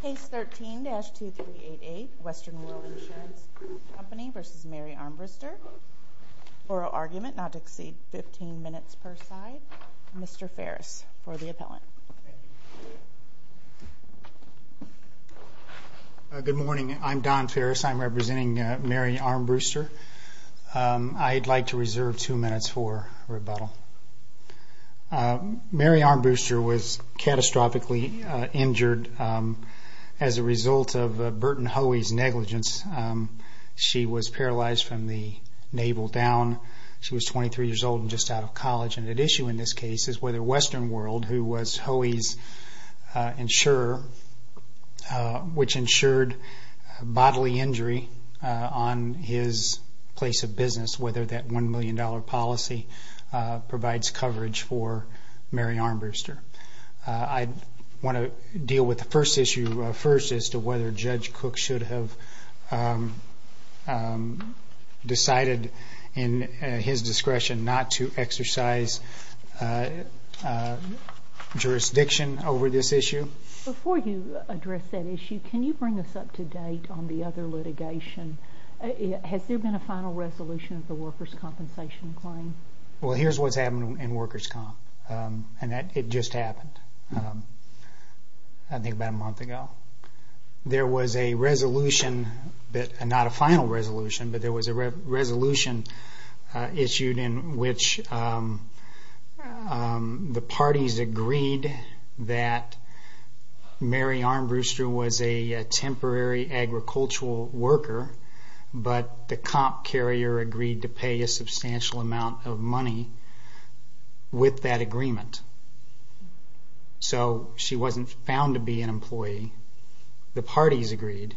Case 13-2388, Western World Insurance Company v. Mary Armbruster. Oral argument not to exceed 15 minutes per side. Mr. Ferris for the appellant. Good morning. I'm Don Ferris. I'm representing Mary Armbruster. I'd like to reserve two minutes for rebuttal. Mary Armbruster was catastrophically injured as a result of Burton Hoey's negligence. She was paralyzed from the navel down. She was 23 years old and just out of college. And at issue in this case is whether Western World, who was Hoey's insurer, which insured bodily injury on his place of business, whether that $1 million policy provides coverage for Mary Armbruster. I want to deal with the first issue first as to whether Judge Cook should have decided, in his discretion, not to exercise jurisdiction over this issue. Before you address that issue, can you bring us up to date on the other litigation? Has there been a final resolution of the workers' compensation claim? Well, here's what's happened in workers' comp. And it just happened, I think, about a month ago. There was a resolution, not a final resolution, but there was a resolution issued in which the parties agreed that Mary Armbruster was a temporary agricultural worker, but the comp carrier agreed to pay a substantial amount of money with that agreement. So she wasn't found to be an employee. The parties agreed.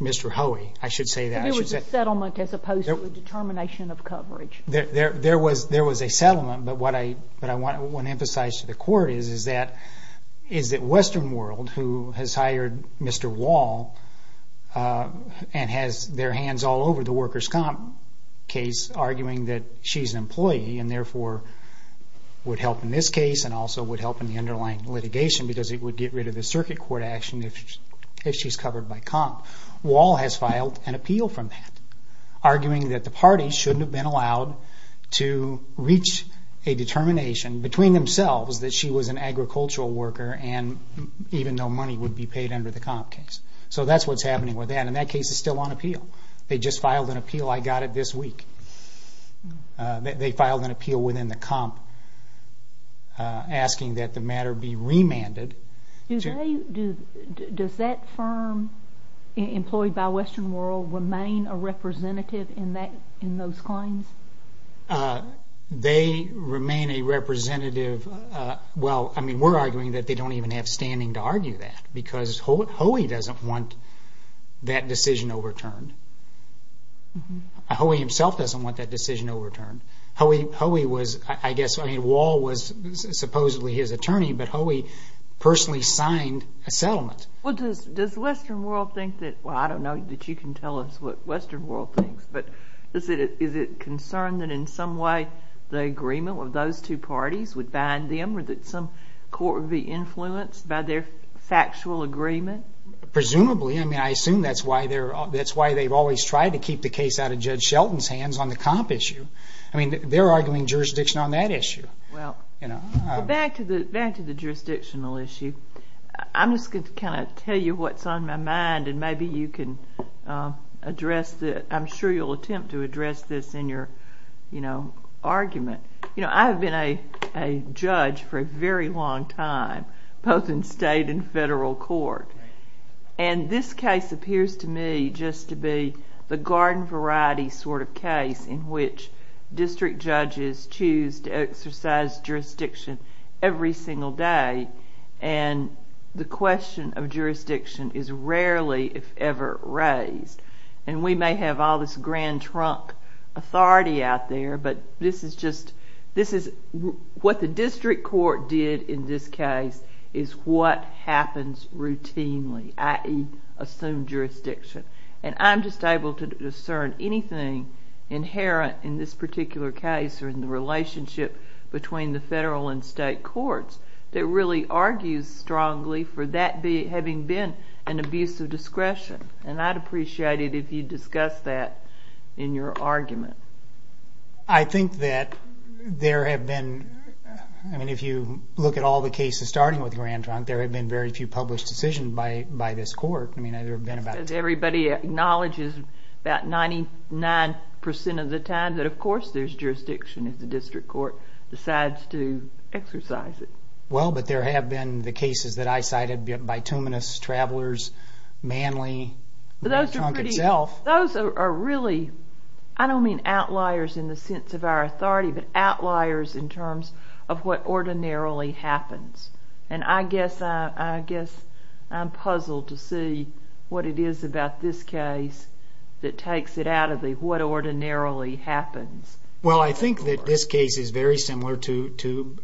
Mr. Hoey, I should say that. It was a settlement as opposed to a determination of coverage. There was a settlement, but what I want to emphasize to the court is that Western World, who has hired Mr. Wall and has their hands all over the workers' comp case, arguing that she's an employee and therefore would help in this case and also would help in the underlying litigation because it would get rid of the circuit court action if she's covered by comp. Wall has filed an appeal from that, arguing that the parties shouldn't have been allowed to reach a determination between themselves that she was an agricultural worker and even though money would be paid under the comp case. So that's what's happening with that, and that case is still on appeal. They just filed an appeal. I got it this week. They filed an appeal within the comp asking that the matter be remanded. Does that firm employed by Western World remain a representative in those claims? They remain a representative. We're arguing that they don't even have standing to argue that because Hoey doesn't want that decision overturned. Hoey himself doesn't want that decision overturned. Wall was supposedly his attorney, but Hoey personally signed a settlement. I don't know that you can tell us what Western World thinks, but is it concerned that in some way the agreement with those two parties would bind them or that some court would be influenced by their factual agreement? Presumably. I assume that's why they've always tried to keep the case out of Judge Shelton's hands on the comp issue. They're arguing jurisdiction on that issue. Back to the jurisdictional issue, I'm just going to tell you what's on my mind, and maybe you can address it. I'm sure you'll attempt to address this in your argument. I've been a judge for a very long time, both in state and federal court, and this case appears to me just to be the garden variety sort of case in which district judges choose to exercise jurisdiction every single day, and the question of jurisdiction is rarely, if ever, raised. We may have all this grand trunk authority out there, but what the district court did in this case is what happens routinely, i.e. assume jurisdiction, and I'm just able to discern anything inherent in this particular case or in the relationship between the federal and state courts that really argues strongly for that having been an abuse of discretion, and I'd appreciate it if you discussed that in your argument. I think that there have been, if you look at all the cases starting with grand trunk, there have been very few published decisions by this court. Everybody acknowledges about 99% of the time that, of course, there's jurisdiction if the district court decides to exercise it. Well, but there have been the cases that I cited, Bituminous, Travelers, Manly, Grand Trunk itself. Those are really, I don't mean outliers in the sense of our authority, but outliers in terms of what ordinarily happens, and I guess I'm puzzled to see what it is about this case that takes it out of the what ordinarily happens. Well, I think that this case is very similar to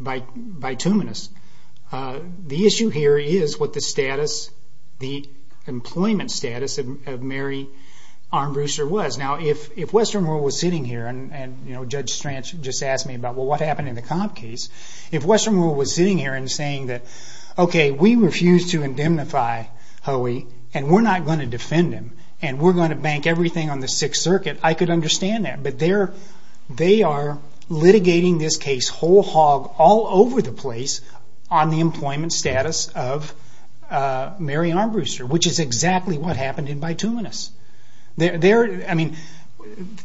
Bituminous. The issue here is what the employment status of Mary Armbruster was. Now, if Western World was sitting here, and Judge Stranch just asked me about, well, what happened in the comp case, if Western World was sitting here and saying that, okay, we refuse to indemnify Hoey, and we're not going to defend him, and we're going to bank everything on the Sixth Circuit, I could understand that, but they are litigating this case whole hog all over the place on the employment status of Mary Armbruster, which is exactly what happened in Bituminous. I mean,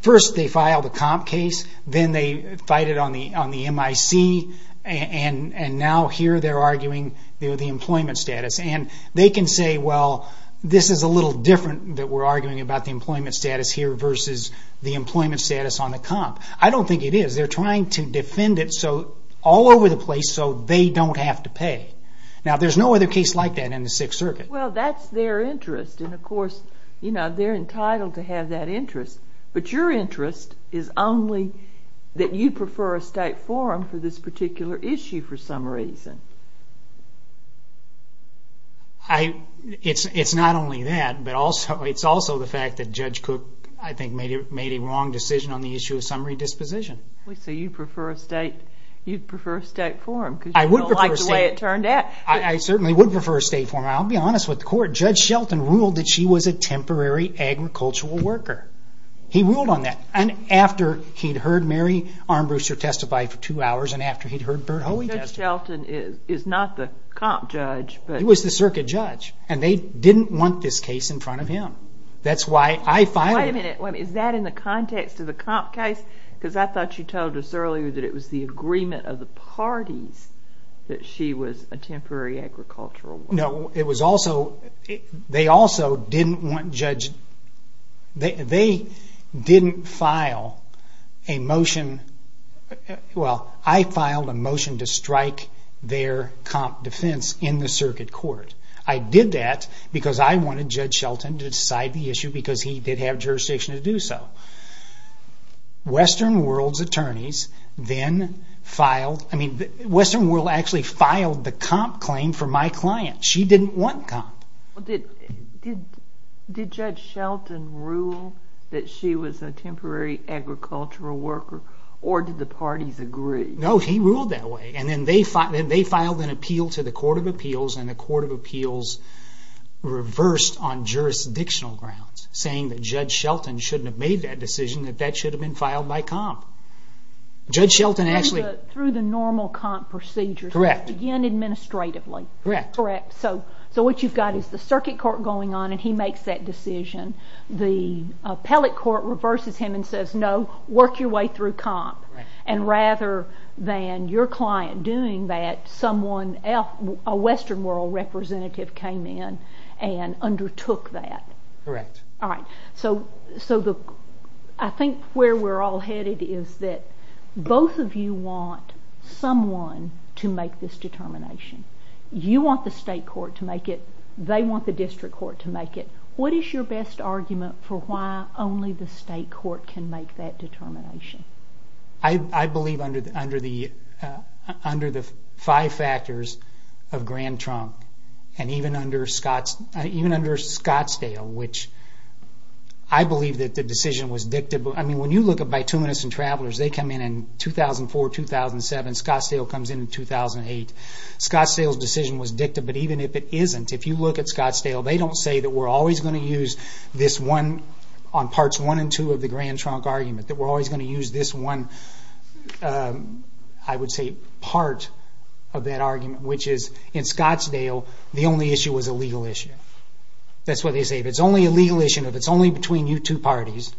first they filed a comp case, then they fighted on the MIC, and now here they're arguing the employment status, and they can say, well, this is a little different that we're arguing about the employment status here versus the employment status on the comp. I don't think it is. They're trying to defend it all over the place so they don't have to pay. Now, there's no other case like that in the Sixth Circuit. Well, that's their interest, and of course they're entitled to have that interest, but your interest is only that you prefer a state forum for this particular issue for some reason. It's not only that, but it's also the fact that Judge Cook, I think, made a wrong decision on the issue of summary disposition. So you prefer a state forum because you don't like the way it turned out. I would prefer a state forum. I certainly would prefer a state forum. I'll be honest with the court. Judge Shelton ruled that she was a temporary agricultural worker. He ruled on that, and after he'd heard Mary Armbruster testify for two hours and after he'd heard Bert Hoey testify. Judge Shelton is not the comp judge. He was the circuit judge, and they didn't want this case in front of him. That's why I filed it. Wait a minute. Is that in the context of the comp case? Because I thought you told us earlier that it was the agreement of the parties that she was a temporary agricultural worker. No. They also didn't want Judge – they didn't file a motion – well, I filed a motion to strike their comp defense in the circuit court. I did that because I wanted Judge Shelton to decide the issue because he did have jurisdiction to do so. Western World's attorneys then filed – I mean, Western World actually filed the comp claim for my client. She didn't want comp. Did Judge Shelton rule that she was a temporary agricultural worker, or did the parties agree? No, he ruled that way. Then they filed an appeal to the Court of Appeals, and the Court of Appeals reversed on jurisdictional grounds, saying that Judge Shelton shouldn't have made that decision, that that should have been filed by comp. Through the normal comp procedure. Correct. Again, administratively. Correct. So what you've got is the circuit court going on, and he makes that decision. The appellate court reverses him and says, no, work your way through comp. And rather than your client doing that, a Western World representative came in and undertook that. Correct. All right. So I think where we're all headed is that both of you want someone to make this determination. You want the state court to make it. They want the district court to make it. What is your best argument for why only the state court can make that determination? I believe under the five factors of Grand Trunk, and even under Scottsdale, which I believe that the decision was dictated. I mean, when you look at bituminous and travelers, they come in in 2004, 2007. Scottsdale comes in in 2008. Scottsdale's decision was dictated. But even if it isn't, if you look at Scottsdale, they don't say that we're always going to use this one on parts one and two of the Grand Trunk argument, that we're always going to use this one, I would say, part of that argument, which is in Scottsdale, the only issue was a legal issue. That's what they say. If it's only a legal issue, if it's only between you two parties,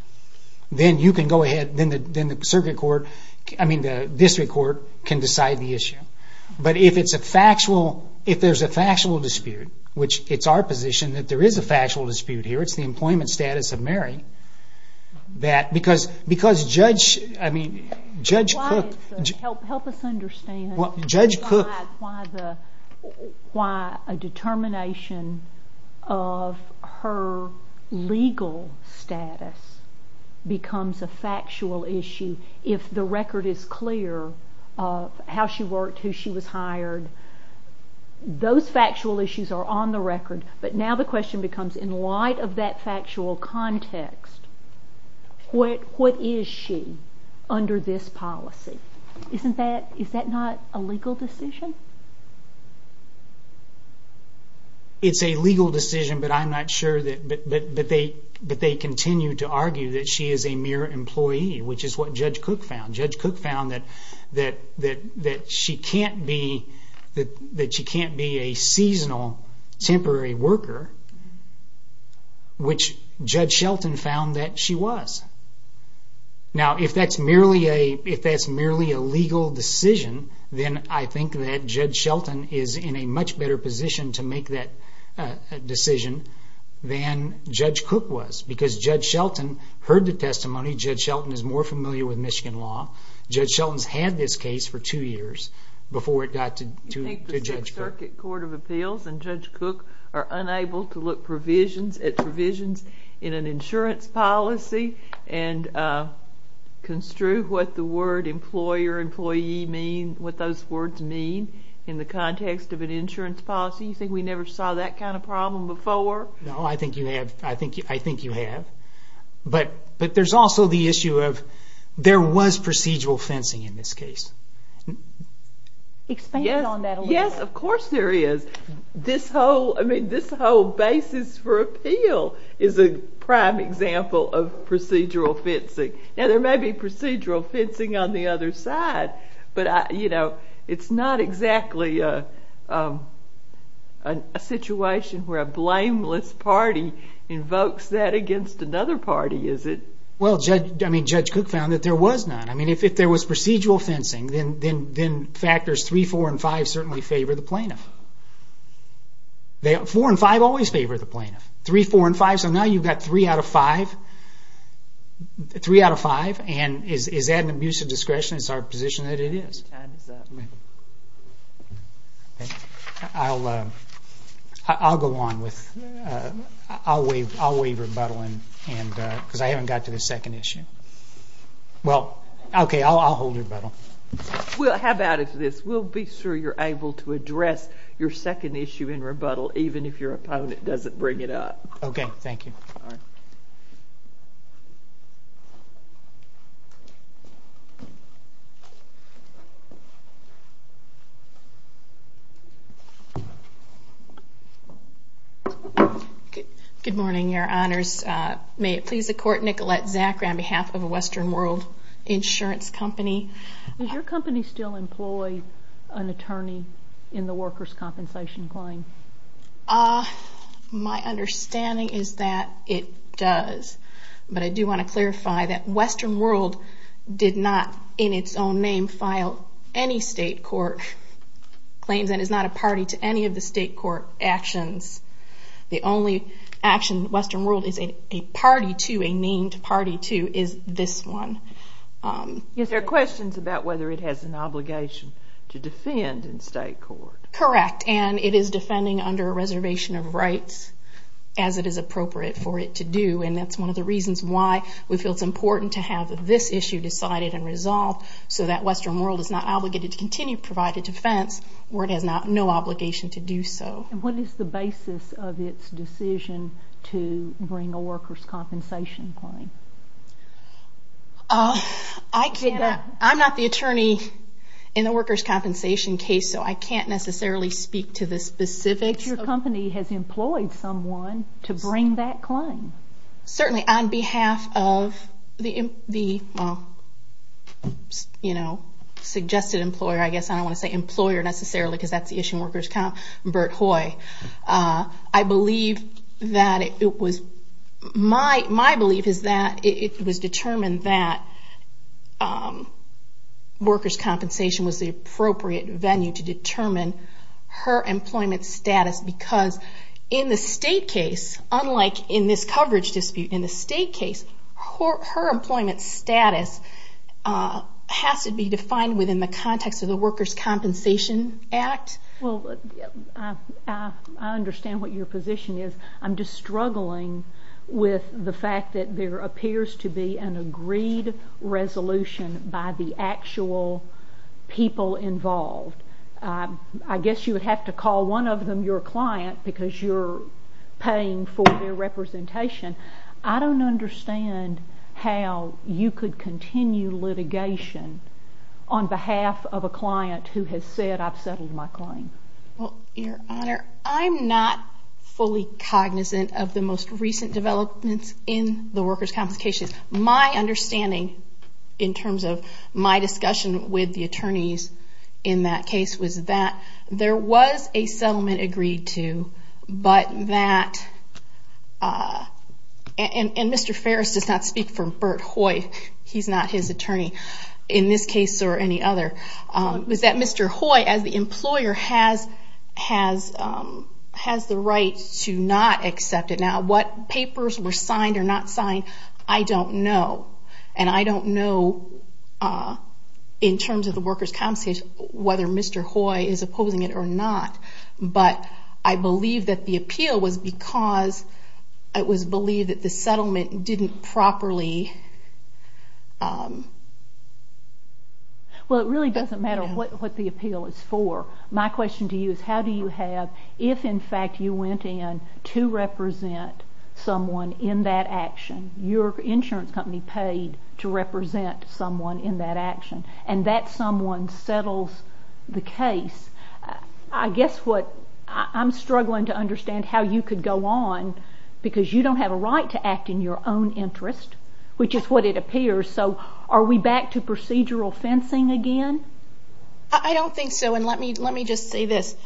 then you can go ahead, then the circuit court, I mean the district court can decide the issue. But if it's a factual, if there's a factual dispute, which it's our position that there is a factual dispute here, it's the employment status of Mary, that because Judge Cook... Help us understand. Judge Cook... Why a determination of her legal status becomes a factual issue if the record is clear of how she worked, who she was hired. Those factual issues are on the record, but now the question becomes, in light of that factual context, what is she under this policy? Isn't that, is that not a legal decision? It's a legal decision, but I'm not sure that, but they continue to argue that she is a mere employee, which is what Judge Cook found. Judge Cook found that she can't be a seasonal temporary worker, which Judge Shelton found that she was. Now, if that's merely a legal decision, then I think that Judge Shelton is in a much better position to make that decision than Judge Cook was, because Judge Shelton heard the testimony, Judge Shelton is more familiar with Michigan law. Judge Shelton's had this case for two years before it got to Judge Cook. You think the Sixth Circuit Court of Appeals and Judge Cook are unable to look provisions, at provisions in an insurance policy and construe what the word employer, employee mean, what those words mean in the context of an insurance policy? You think we never saw that kind of problem before? No, I think you have. I think you have. But there's also the issue of there was procedural fencing in this case. Expand on that a little. Yes, of course there is. This whole basis for appeal is a prime example of procedural fencing. Now, there may be procedural fencing on the other side, but it's not exactly a situation where a blameless party invokes that against another party, is it? Well, Judge Cook found that there was none. If there was procedural fencing, then factors 3, 4, and 5 certainly favor the plaintiff. 4 and 5 always favor the plaintiff. 3, 4, and 5, so now you've got 3 out of 5, and is that an abuse of discretion? It's our position that it is. Your time is up. I'll go on. I'll waive rebuttal because I haven't got to the second issue. Well, okay, I'll hold rebuttal. How about this? We'll be sure you're able to address your second issue in rebuttal even if your opponent doesn't bring it up. Okay, thank you. All right. Good morning, Your Honors. May it please the Court, Nicolette Zakra on behalf of Western World Insurance Company. Does your company still employ an attorney in the workers' compensation claim? My understanding is that it does, but I do want to clarify that Western World did not, in its own name, file any state court claims and is not a party to any of the state court actions. The only action Western World is a party to, a named party to, is this one. Yes, there are questions about whether it has an obligation to defend in state court. Correct, and it is defending under a reservation of rights as it is appropriate for it to do, and that's one of the reasons why we feel it's important to have this issue decided and resolved so that Western World is not obligated to continue to provide a defense where it has no obligation to do so. What is the basis of its decision to bring a workers' compensation claim? I'm not the attorney in the workers' compensation case, so I can't necessarily speak to the specifics. But your company has employed someone to bring that claim. Certainly, on behalf of the suggested employer, I guess, I don't want to say employer necessarily because that's the issue in workers' comp, Bert Hoy, my belief is that it was determined that workers' compensation was the appropriate venue to determine her employment status because in the state case, unlike in this coverage dispute, in the state case her employment status has to be defined within the context of the Workers' Compensation Act. I understand what your position is. I'm just struggling with the fact that there appears to be an agreed resolution by the actual people involved. I guess you would have to call one of them your client because you're paying for their representation. I don't understand how you could continue litigation on behalf of a client who has said, I've settled my claim. Your Honor, I'm not fully cognizant of the most recent developments in the workers' complications. My understanding in terms of my discussion with the attorneys in that case was that there was a settlement agreed to but that, and Mr. Ferris does not speak for Bert Hoy, he's not his attorney, in this case or any other, was that Mr. Hoy, as the employer, has the right to not accept it. Now what papers were signed or not signed, I don't know, and I don't know in terms of the workers' compensation whether Mr. Hoy is opposing it or not, but I believe that the appeal was because it was believed that the settlement didn't properly... Well, it really doesn't matter what the appeal is for. My question to you is how do you have, if in fact you went in to represent someone in that action, your insurance company paid to represent someone in that action, and that someone settles the case. I guess what I'm struggling to understand how you could go on because you don't have a right to act in your own interest, which is what it appears, so are we back to procedural fencing again? I don't think so, and let me just say this.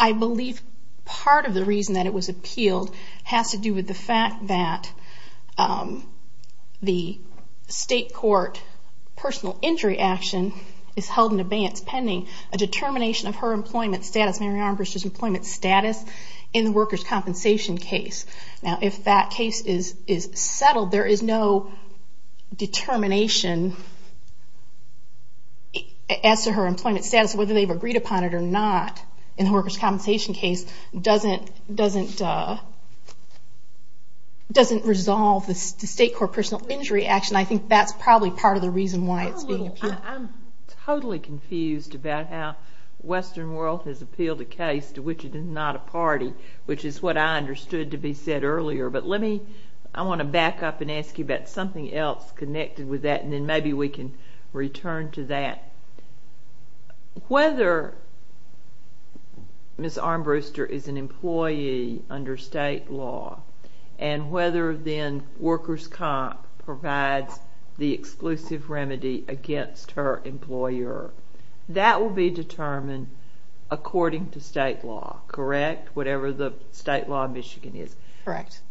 I believe part of the reason that it was appealed has to do with the fact that the state court personal injury action is held in abeyance pending a determination of her employment status, Mary Armbruster's employment status, in the workers' compensation case. Now if that case is settled, there is no determination as to her employment status, whether they've agreed upon it or not in the workers' compensation case, doesn't resolve the state court personal injury action. I think that's probably part of the reason why it's being appealed. I'm totally confused about how Western World has appealed a case to which it is not a party, which is what I understood to be said earlier. But let me, I want to back up and ask you about something else connected with that and then maybe we can return to that. Whether Ms. Armbruster is an employee under state law and whether then workers' comp provides the exclusive remedy against her employer, that will be determined according to state law, correct? Whatever the state law in Michigan is. Correct.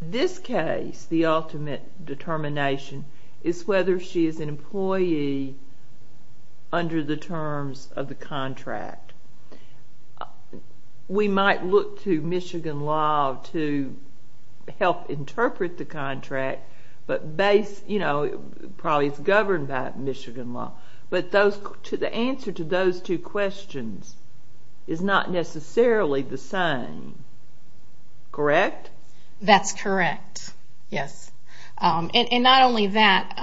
This case, the ultimate determination, is whether she is an employee under the terms of the contract. We might look to Michigan law to help interpret the contract, but probably it's governed by Michigan law. But the answer to those two questions is not necessarily the same. Correct? That's correct, yes. And not only that,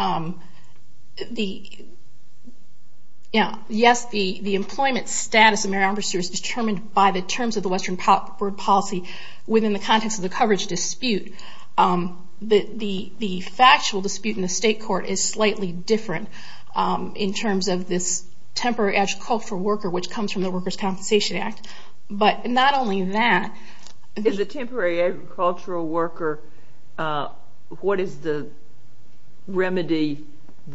yes, the employment status of Mary Armbruster is determined by the terms of the Western World policy within the context of the coverage dispute. The factual dispute in the state court is slightly different in terms of this temporary agricultural worker, which comes from the Workers' Compensation Act. But not only that. As a temporary agricultural worker, what is the remedy?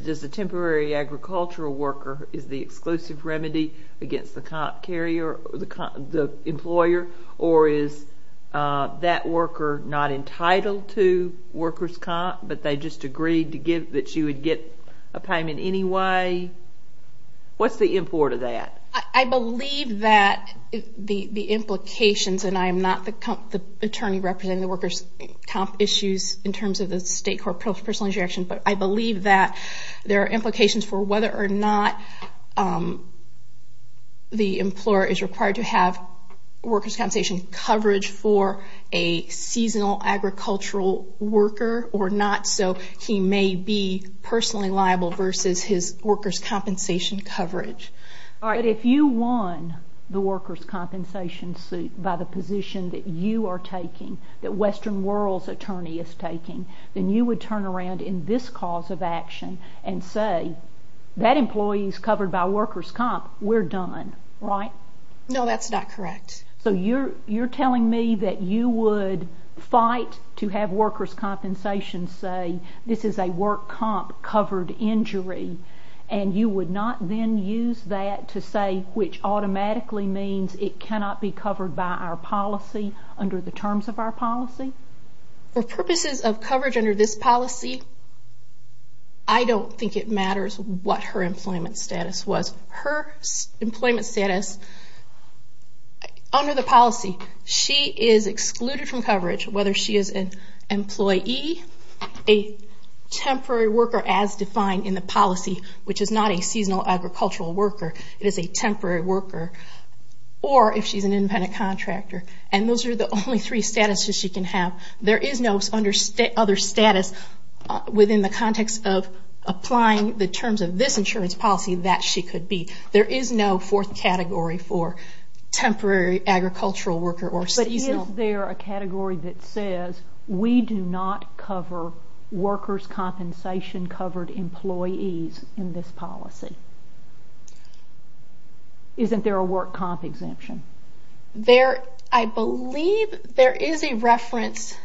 Does the temporary agricultural worker, is the exclusive remedy against the employer or is that worker not entitled to Workers' Comp but they just agreed that she would get a payment anyway? What's the import of that? I believe that the implications, and I am not the attorney representing the Workers' Comp issues in terms of the state court personal injury action, but I believe that there are implications for whether or not the employer is required to have workers' compensation coverage for a seasonal agricultural worker or not, so he may be personally liable versus his workers' compensation coverage. But if you won the workers' compensation suit by the position that you are taking, that Western World's attorney is taking, then you would turn around in this cause of action and say that employee is covered by Workers' Comp, we're done, right? No, that's not correct. So you're telling me that you would fight to have workers' compensation say this is a Workers' Comp covered injury and you would not then use that to say, which automatically means it cannot be covered by our policy under the terms of our policy? For purposes of coverage under this policy, I don't think it matters what her employment status was. Her employment status under the policy, she is excluded from coverage, whether she is an employee, a temporary worker as defined in the policy, which is not a seasonal agricultural worker, it is a temporary worker, or if she's an independent contractor. And those are the only three statuses she can have. There is no other status within the context of applying the terms of this insurance policy that she could be. There is no fourth category for temporary agricultural worker or seasonal. Is there a category that says, we do not cover Workers' Compensation covered employees in this policy? Isn't there a Work Comp exemption? I believe there is a reference,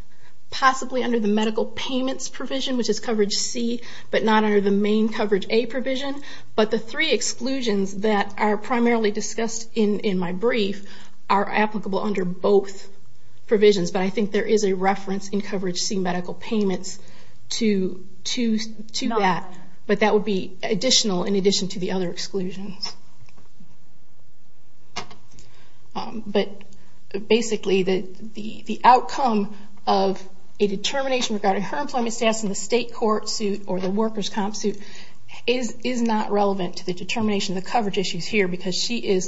possibly under the medical payments provision, which is coverage C, but not under the main coverage A provision. But the three exclusions that are primarily discussed in my brief are applicable under both provisions, but I think there is a reference in coverage C medical payments to that, but that would be additional in addition to the other exclusions. But basically the outcome of a determination regarding her employment status in the state court suit or the Workers' Comp suit is not relevant to the determination of the coverage issues here because she is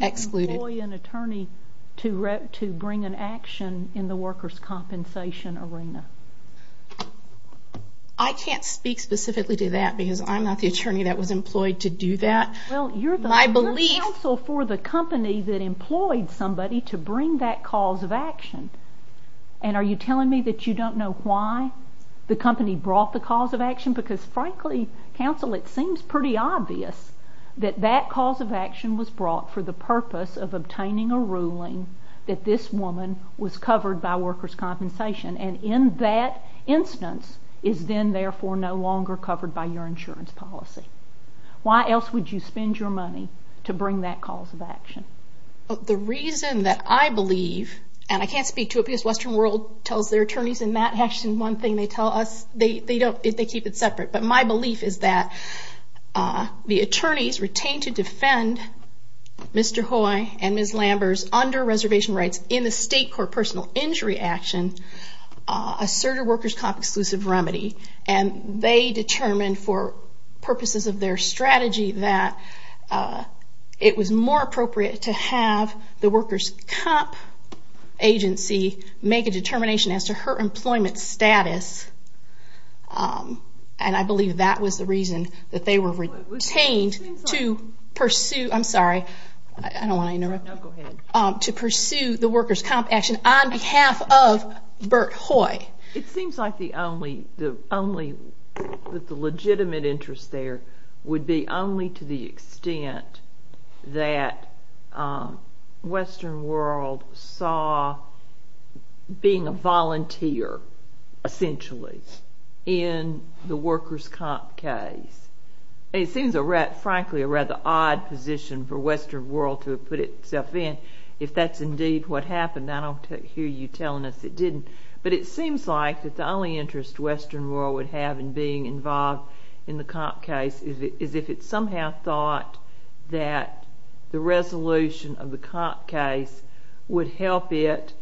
excluded. Why would you employ an attorney to bring an action in the Workers' Compensation arena? I can't speak specifically to that because I'm not the attorney that was employed to do that. Well, you're the counsel for the company that employed somebody to bring that cause of action, and are you telling me that you don't know why the company brought the cause of action because, frankly, counsel, it seems pretty obvious that that cause of action was brought for the purpose of obtaining a ruling that this woman was covered by Workers' Compensation and in that instance is then, therefore, no longer covered by your insurance policy. Why else would you spend your money to bring that cause of action? The reason that I believe, and I can't speak to it because Western World tells their attorneys, and Matt Hatch is one thing they tell us, they keep it separate. But my belief is that the attorneys retained to defend Mr. Hoy and Ms. Lambers under reservation rights in the state court personal injury action asserted Workers' Comp exclusive remedy, and they determined for purposes of their strategy that it was more appropriate to have the Workers' Comp agency make a determination as to her employment status, and I believe that was the reason that they were retained to pursue the Workers' Comp action on behalf of Bert Hoy. It seems like the only legitimate interest there would be only to the extent that Western World saw being a volunteer, essentially, in the Workers' Comp case. It seems, frankly, a rather odd position for Western World to have put itself in if that's indeed what happened. I don't hear you telling us it didn't. But it seems like that the only interest Western World would have in being involved in the Comp case is if it somehow thought that the resolution of the Comp case would help it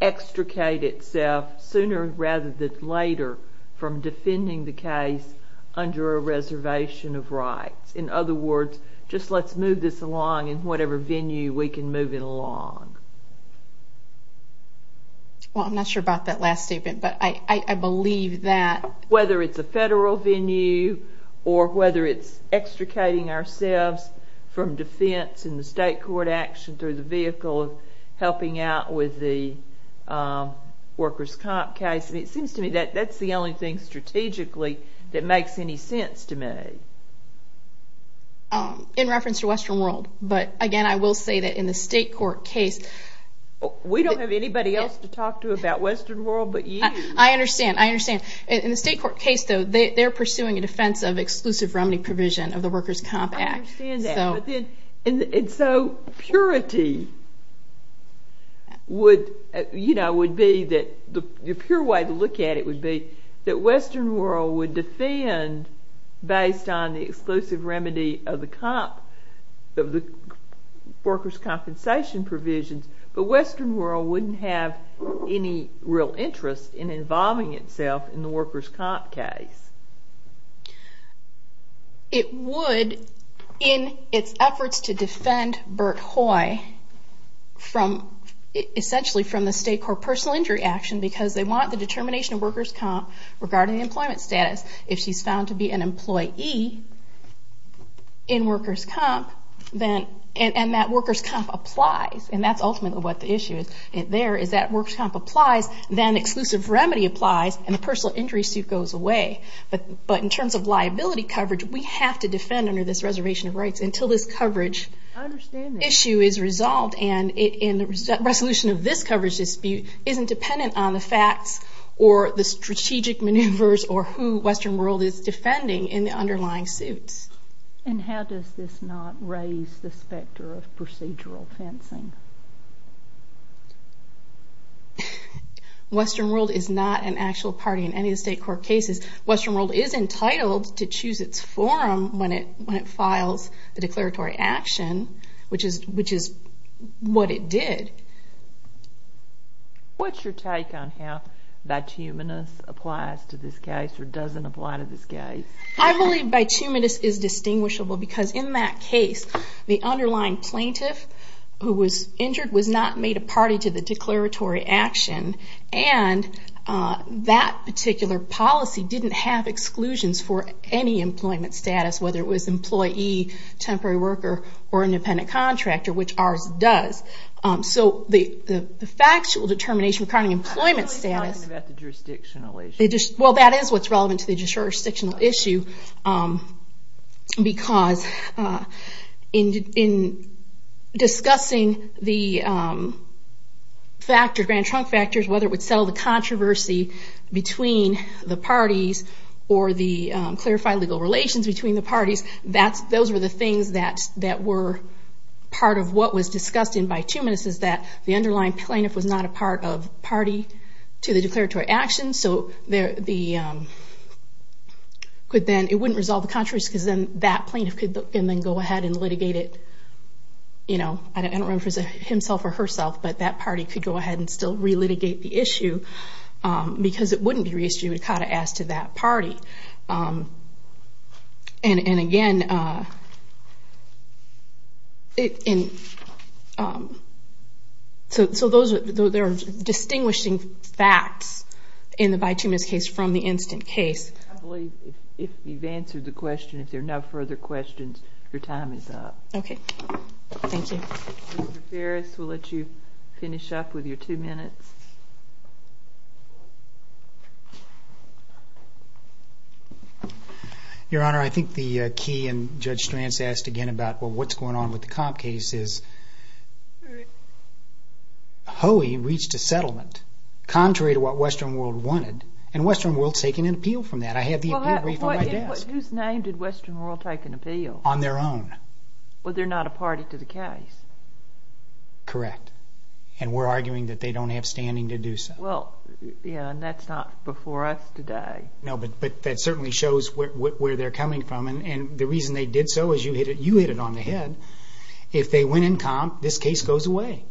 extricate itself sooner rather than later from defending the case under a reservation of rights. In other words, just let's move this along in whatever venue we can move it along. Well, I'm not sure about that last statement, but I believe that whether it's a federal venue or whether it's extricating ourselves from defense in the state court action through the vehicle of helping out with the Workers' Comp case, it seems to me that that's the only thing strategically that makes any sense to me. In reference to Western World, but again, I will say that in the state court case... We don't have anybody else to talk to about Western World but you. I understand. I understand. In the state court case, though, they're pursuing a defense of exclusive remedy provision of the Workers' Comp Act. I understand that. And so purity would be that the pure way to look at it would be that Western World would defend based on the exclusive remedy of the Workers' Compensation provisions, but Western World wouldn't have any real interest in involving itself in the Workers' Comp case. It would in its efforts to defend Bert Hoy essentially from the state court personal injury action because they want the determination of Workers' Comp regarding employment status. If she's found to be an employee in Workers' Comp and that Workers' Comp applies and that's ultimately what the issue is there is that Workers' Comp applies, then exclusive remedy applies, and the personal injury suit goes away. But in terms of liability coverage, we have to defend under this reservation of rights until this coverage issue is resolved and the resolution of this coverage dispute isn't dependent on the facts or the strategic maneuvers or who Western World is defending in the underlying suits. And how does this not raise the specter of procedural fencing? Western World is not an actual party in any of the state court cases. Western World is entitled to choose its forum when it files the declaratory action, which is what it did. What's your take on how bituminous applies to this case or doesn't apply to this case? I believe bituminous is distinguishable because in that case the underlying plaintiff who was injured was not made a party to the declaratory action, and that particular policy didn't have exclusions for any employment status, whether it was employee, temporary worker, or independent contractor, which ours does. So the factual determination regarding employment status... I'm only talking about the jurisdictional issue. Well, that is what's relevant to the jurisdictional issue because in discussing the Grand Trunk factors, whether it would settle the controversy between the parties or clarify legal relations between the parties, those were the things that were part of what was discussed in bituminous is that the underlying plaintiff was not a part of party to the declaratory action, so it wouldn't resolve the controversy because then that plaintiff could go ahead and litigate it. I don't remember if it was himself or herself, but that party could go ahead and still re-litigate the issue because it wouldn't be reissued if it was asked to that party. And again, so there are distinguishing facts in the bituminous case from the instant case. I believe if you've answered the question, if there are no further questions, your time is up. Okay. Thank you. Mr. Ferris, we'll let you finish up with your two minutes. Your Honor, I think the key, and Judge Stranz asked again about what's going on with the comp case, is Hoey reached a settlement contrary to what Western World wanted, and Western World's taking an appeal from that. I have the appeal brief on my desk. Whose name did Western World take an appeal? On their own. Well, they're not a party to the case. Correct. And we're arguing that they don't have standing to do so. Well, yeah, and that's not before us today. No, but that certainly shows where they're coming from, and the reason they did so is you hit it on the head. If they win in comp, this case goes away.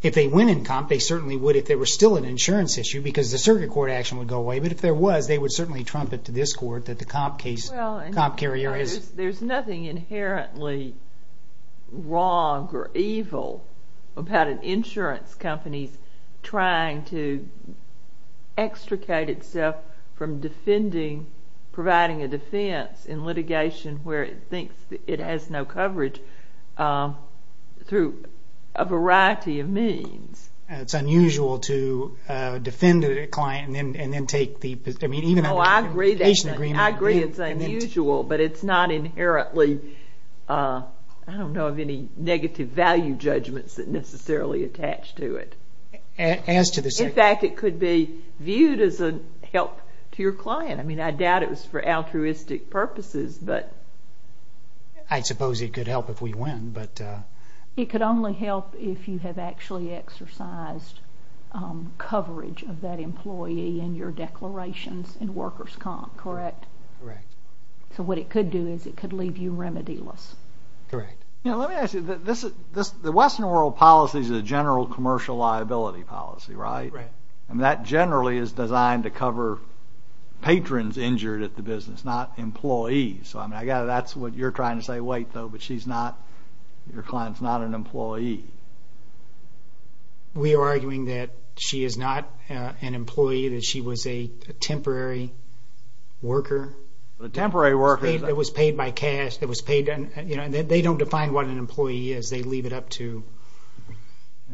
If they win in comp, they certainly would if there were still an insurance issue because the circuit court action would go away, but if there was, they would certainly trumpet to this court that the comp case, There's nothing inherently wrong or evil about an insurance company trying to extricate itself from defending, providing a defense in litigation where it thinks it has no coverage through a variety of means. It's unusual to defend a client and then take the position. Oh, I agree. I agree it's unusual, but it's not inherently, I don't know of any negative value judgments that necessarily attach to it. In fact, it could be viewed as a help to your client. I mean, I doubt it was for altruistic purposes, but. I suppose it could help if we win, but. It could only help if you have actually exercised coverage of that employee and your declarations in workers' comp, correct? Correct. So what it could do is it could leave you remedy-less. Correct. Now, let me ask you. The Western world policy is a general commercial liability policy, right? Right. And that generally is designed to cover patrons injured at the business, not employees. So, I mean, that's what you're trying to say. Wait, though, but she's not, your client's not an employee. We are arguing that she is not an employee, that she was a temporary worker. A temporary worker. That was paid by cash, that was paid, you know, and they don't define what an employee is, they leave it up to.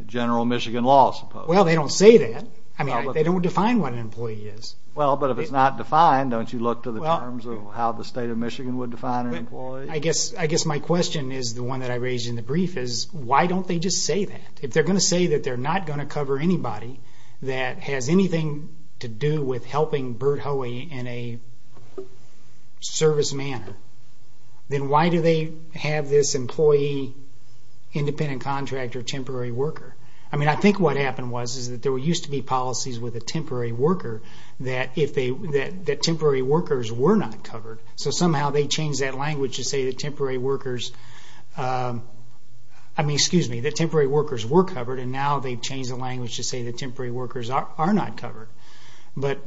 General Michigan law, I suppose. Well, they don't say that. I mean, they don't define what an employee is. Well, but if it's not defined, don't you look to the terms of how the state of Michigan would define an employee? I guess my question is the one that I raised in the brief, is why don't they just say that? If they're going to say that they're not going to cover anybody that has anything to do with helping Bert Hoey in a service manner, then why do they have this employee, independent contractor, temporary worker? I mean, I think what happened was is that there used to be policies with a temporary worker that temporary workers were not covered. So somehow they changed that language to say that temporary workers, I mean, excuse me, that temporary workers were covered, and now they've changed the language to say that temporary workers are not covered. But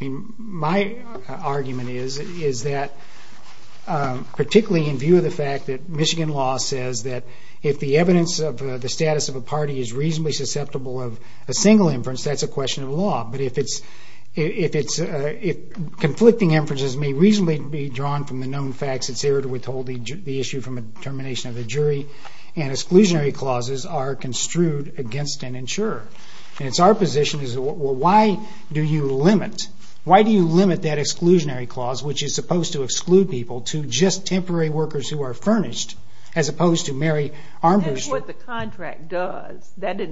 my argument is that, particularly in view of the fact that Michigan law says that if the evidence of the status of a party is reasonably susceptible of a single inference, that's a question of law. But if conflicting inferences may reasonably be drawn from the known facts, it's error to withhold the issue from the determination of the jury, and exclusionary clauses are construed against an insurer. And it's our position is, well, why do you limit that exclusionary clause, which is supposed to exclude people, to just temporary workers who are furnished, as opposed to Mary Armbruster? That's what the contract does. That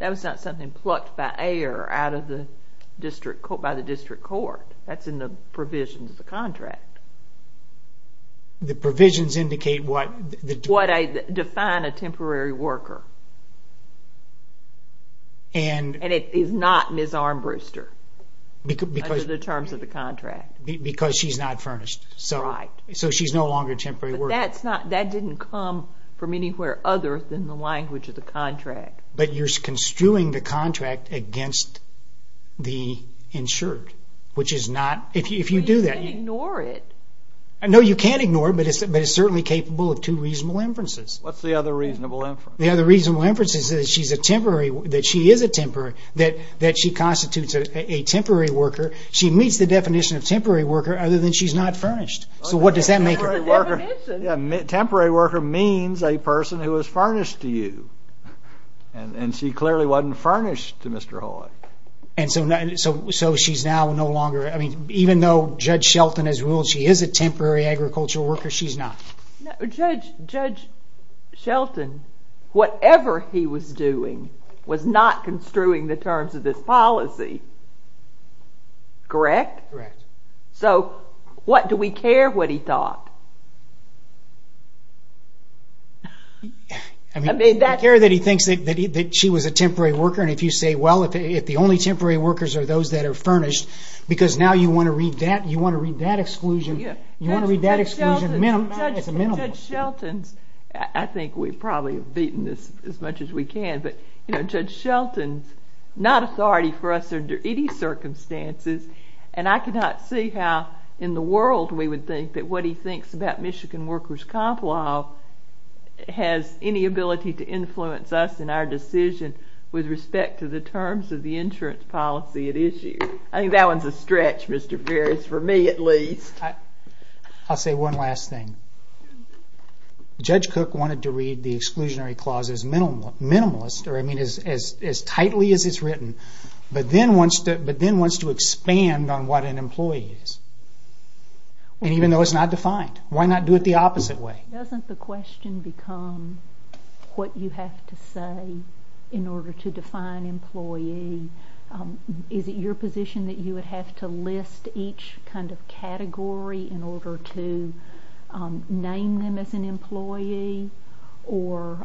was not something plucked by air out of the district court, by the district court. That's in the provisions of the contract. The provisions indicate what? What I define a temporary worker. And it is not Ms. Armbruster under the terms of the contract. Because she's not furnished. Right. So she's no longer a temporary worker. That didn't come from anywhere other than the language of the contract. But you're construing the contract against the insured, which is not, if you do that. But you can't ignore it. No, you can't ignore it, but it's certainly capable of two reasonable inferences. What's the other reasonable inference? The other reasonable inference is that she is a temporary, that she constitutes a temporary worker. She meets the definition of temporary worker other than she's not furnished. So what does that make her? The definition. Temporary worker means a person who is furnished to you. And she clearly wasn't furnished to Mr. Hoy. So she's now no longer, even though Judge Shelton has ruled she is a temporary agricultural worker, she's not. Judge Shelton, whatever he was doing, was not construing the terms of this policy. Correct? Correct. Correct. So what, do we care what he thought? I care that he thinks that she was a temporary worker. And if you say, well, if the only temporary workers are those that are furnished, because now you want to read that exclusion, you want to read that exclusion as a minimum. Judge Shelton's, I think we've probably beaten this as much as we can, but Judge Shelton's not authority for us under any circumstances. And I cannot see how in the world we would think that what he thinks about Michigan workers' comp law has any ability to influence us in our decision with respect to the terms of the insurance policy at issue. I think that one's a stretch, Mr. Ferris, for me at least. I'll say one last thing. Judge Cook wanted to read the exclusionary clause as minimalist, or I mean as tightly as it's written, but then wants to expand on what an employee is. And even though it's not defined, why not do it the opposite way? Doesn't the question become what you have to say in order to define employee? Is it your position that you would have to list each kind of category in order to name them as an employee? Or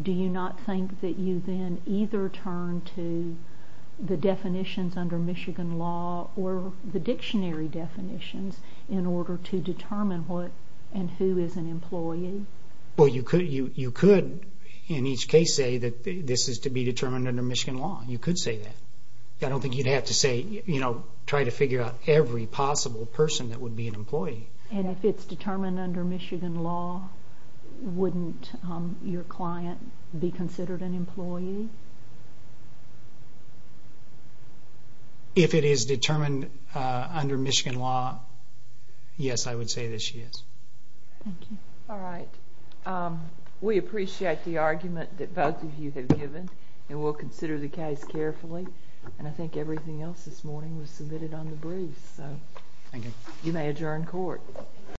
do you not think that you then either turn to the definitions under Michigan law or the dictionary definitions in order to determine what and who is an employee? Well, you could in each case say that this is to be determined under Michigan law. You could say that. I don't think you'd have to say, you know, try to figure out every possible person that would be an employee. And if it's determined under Michigan law, wouldn't your client be considered an employee? If it is determined under Michigan law, yes, I would say that she is. Thank you. All right. We appreciate the argument that both of you have given, and we'll consider the case carefully. And I think everything else this morning was submitted on the briefs. Thank you. You may adjourn court.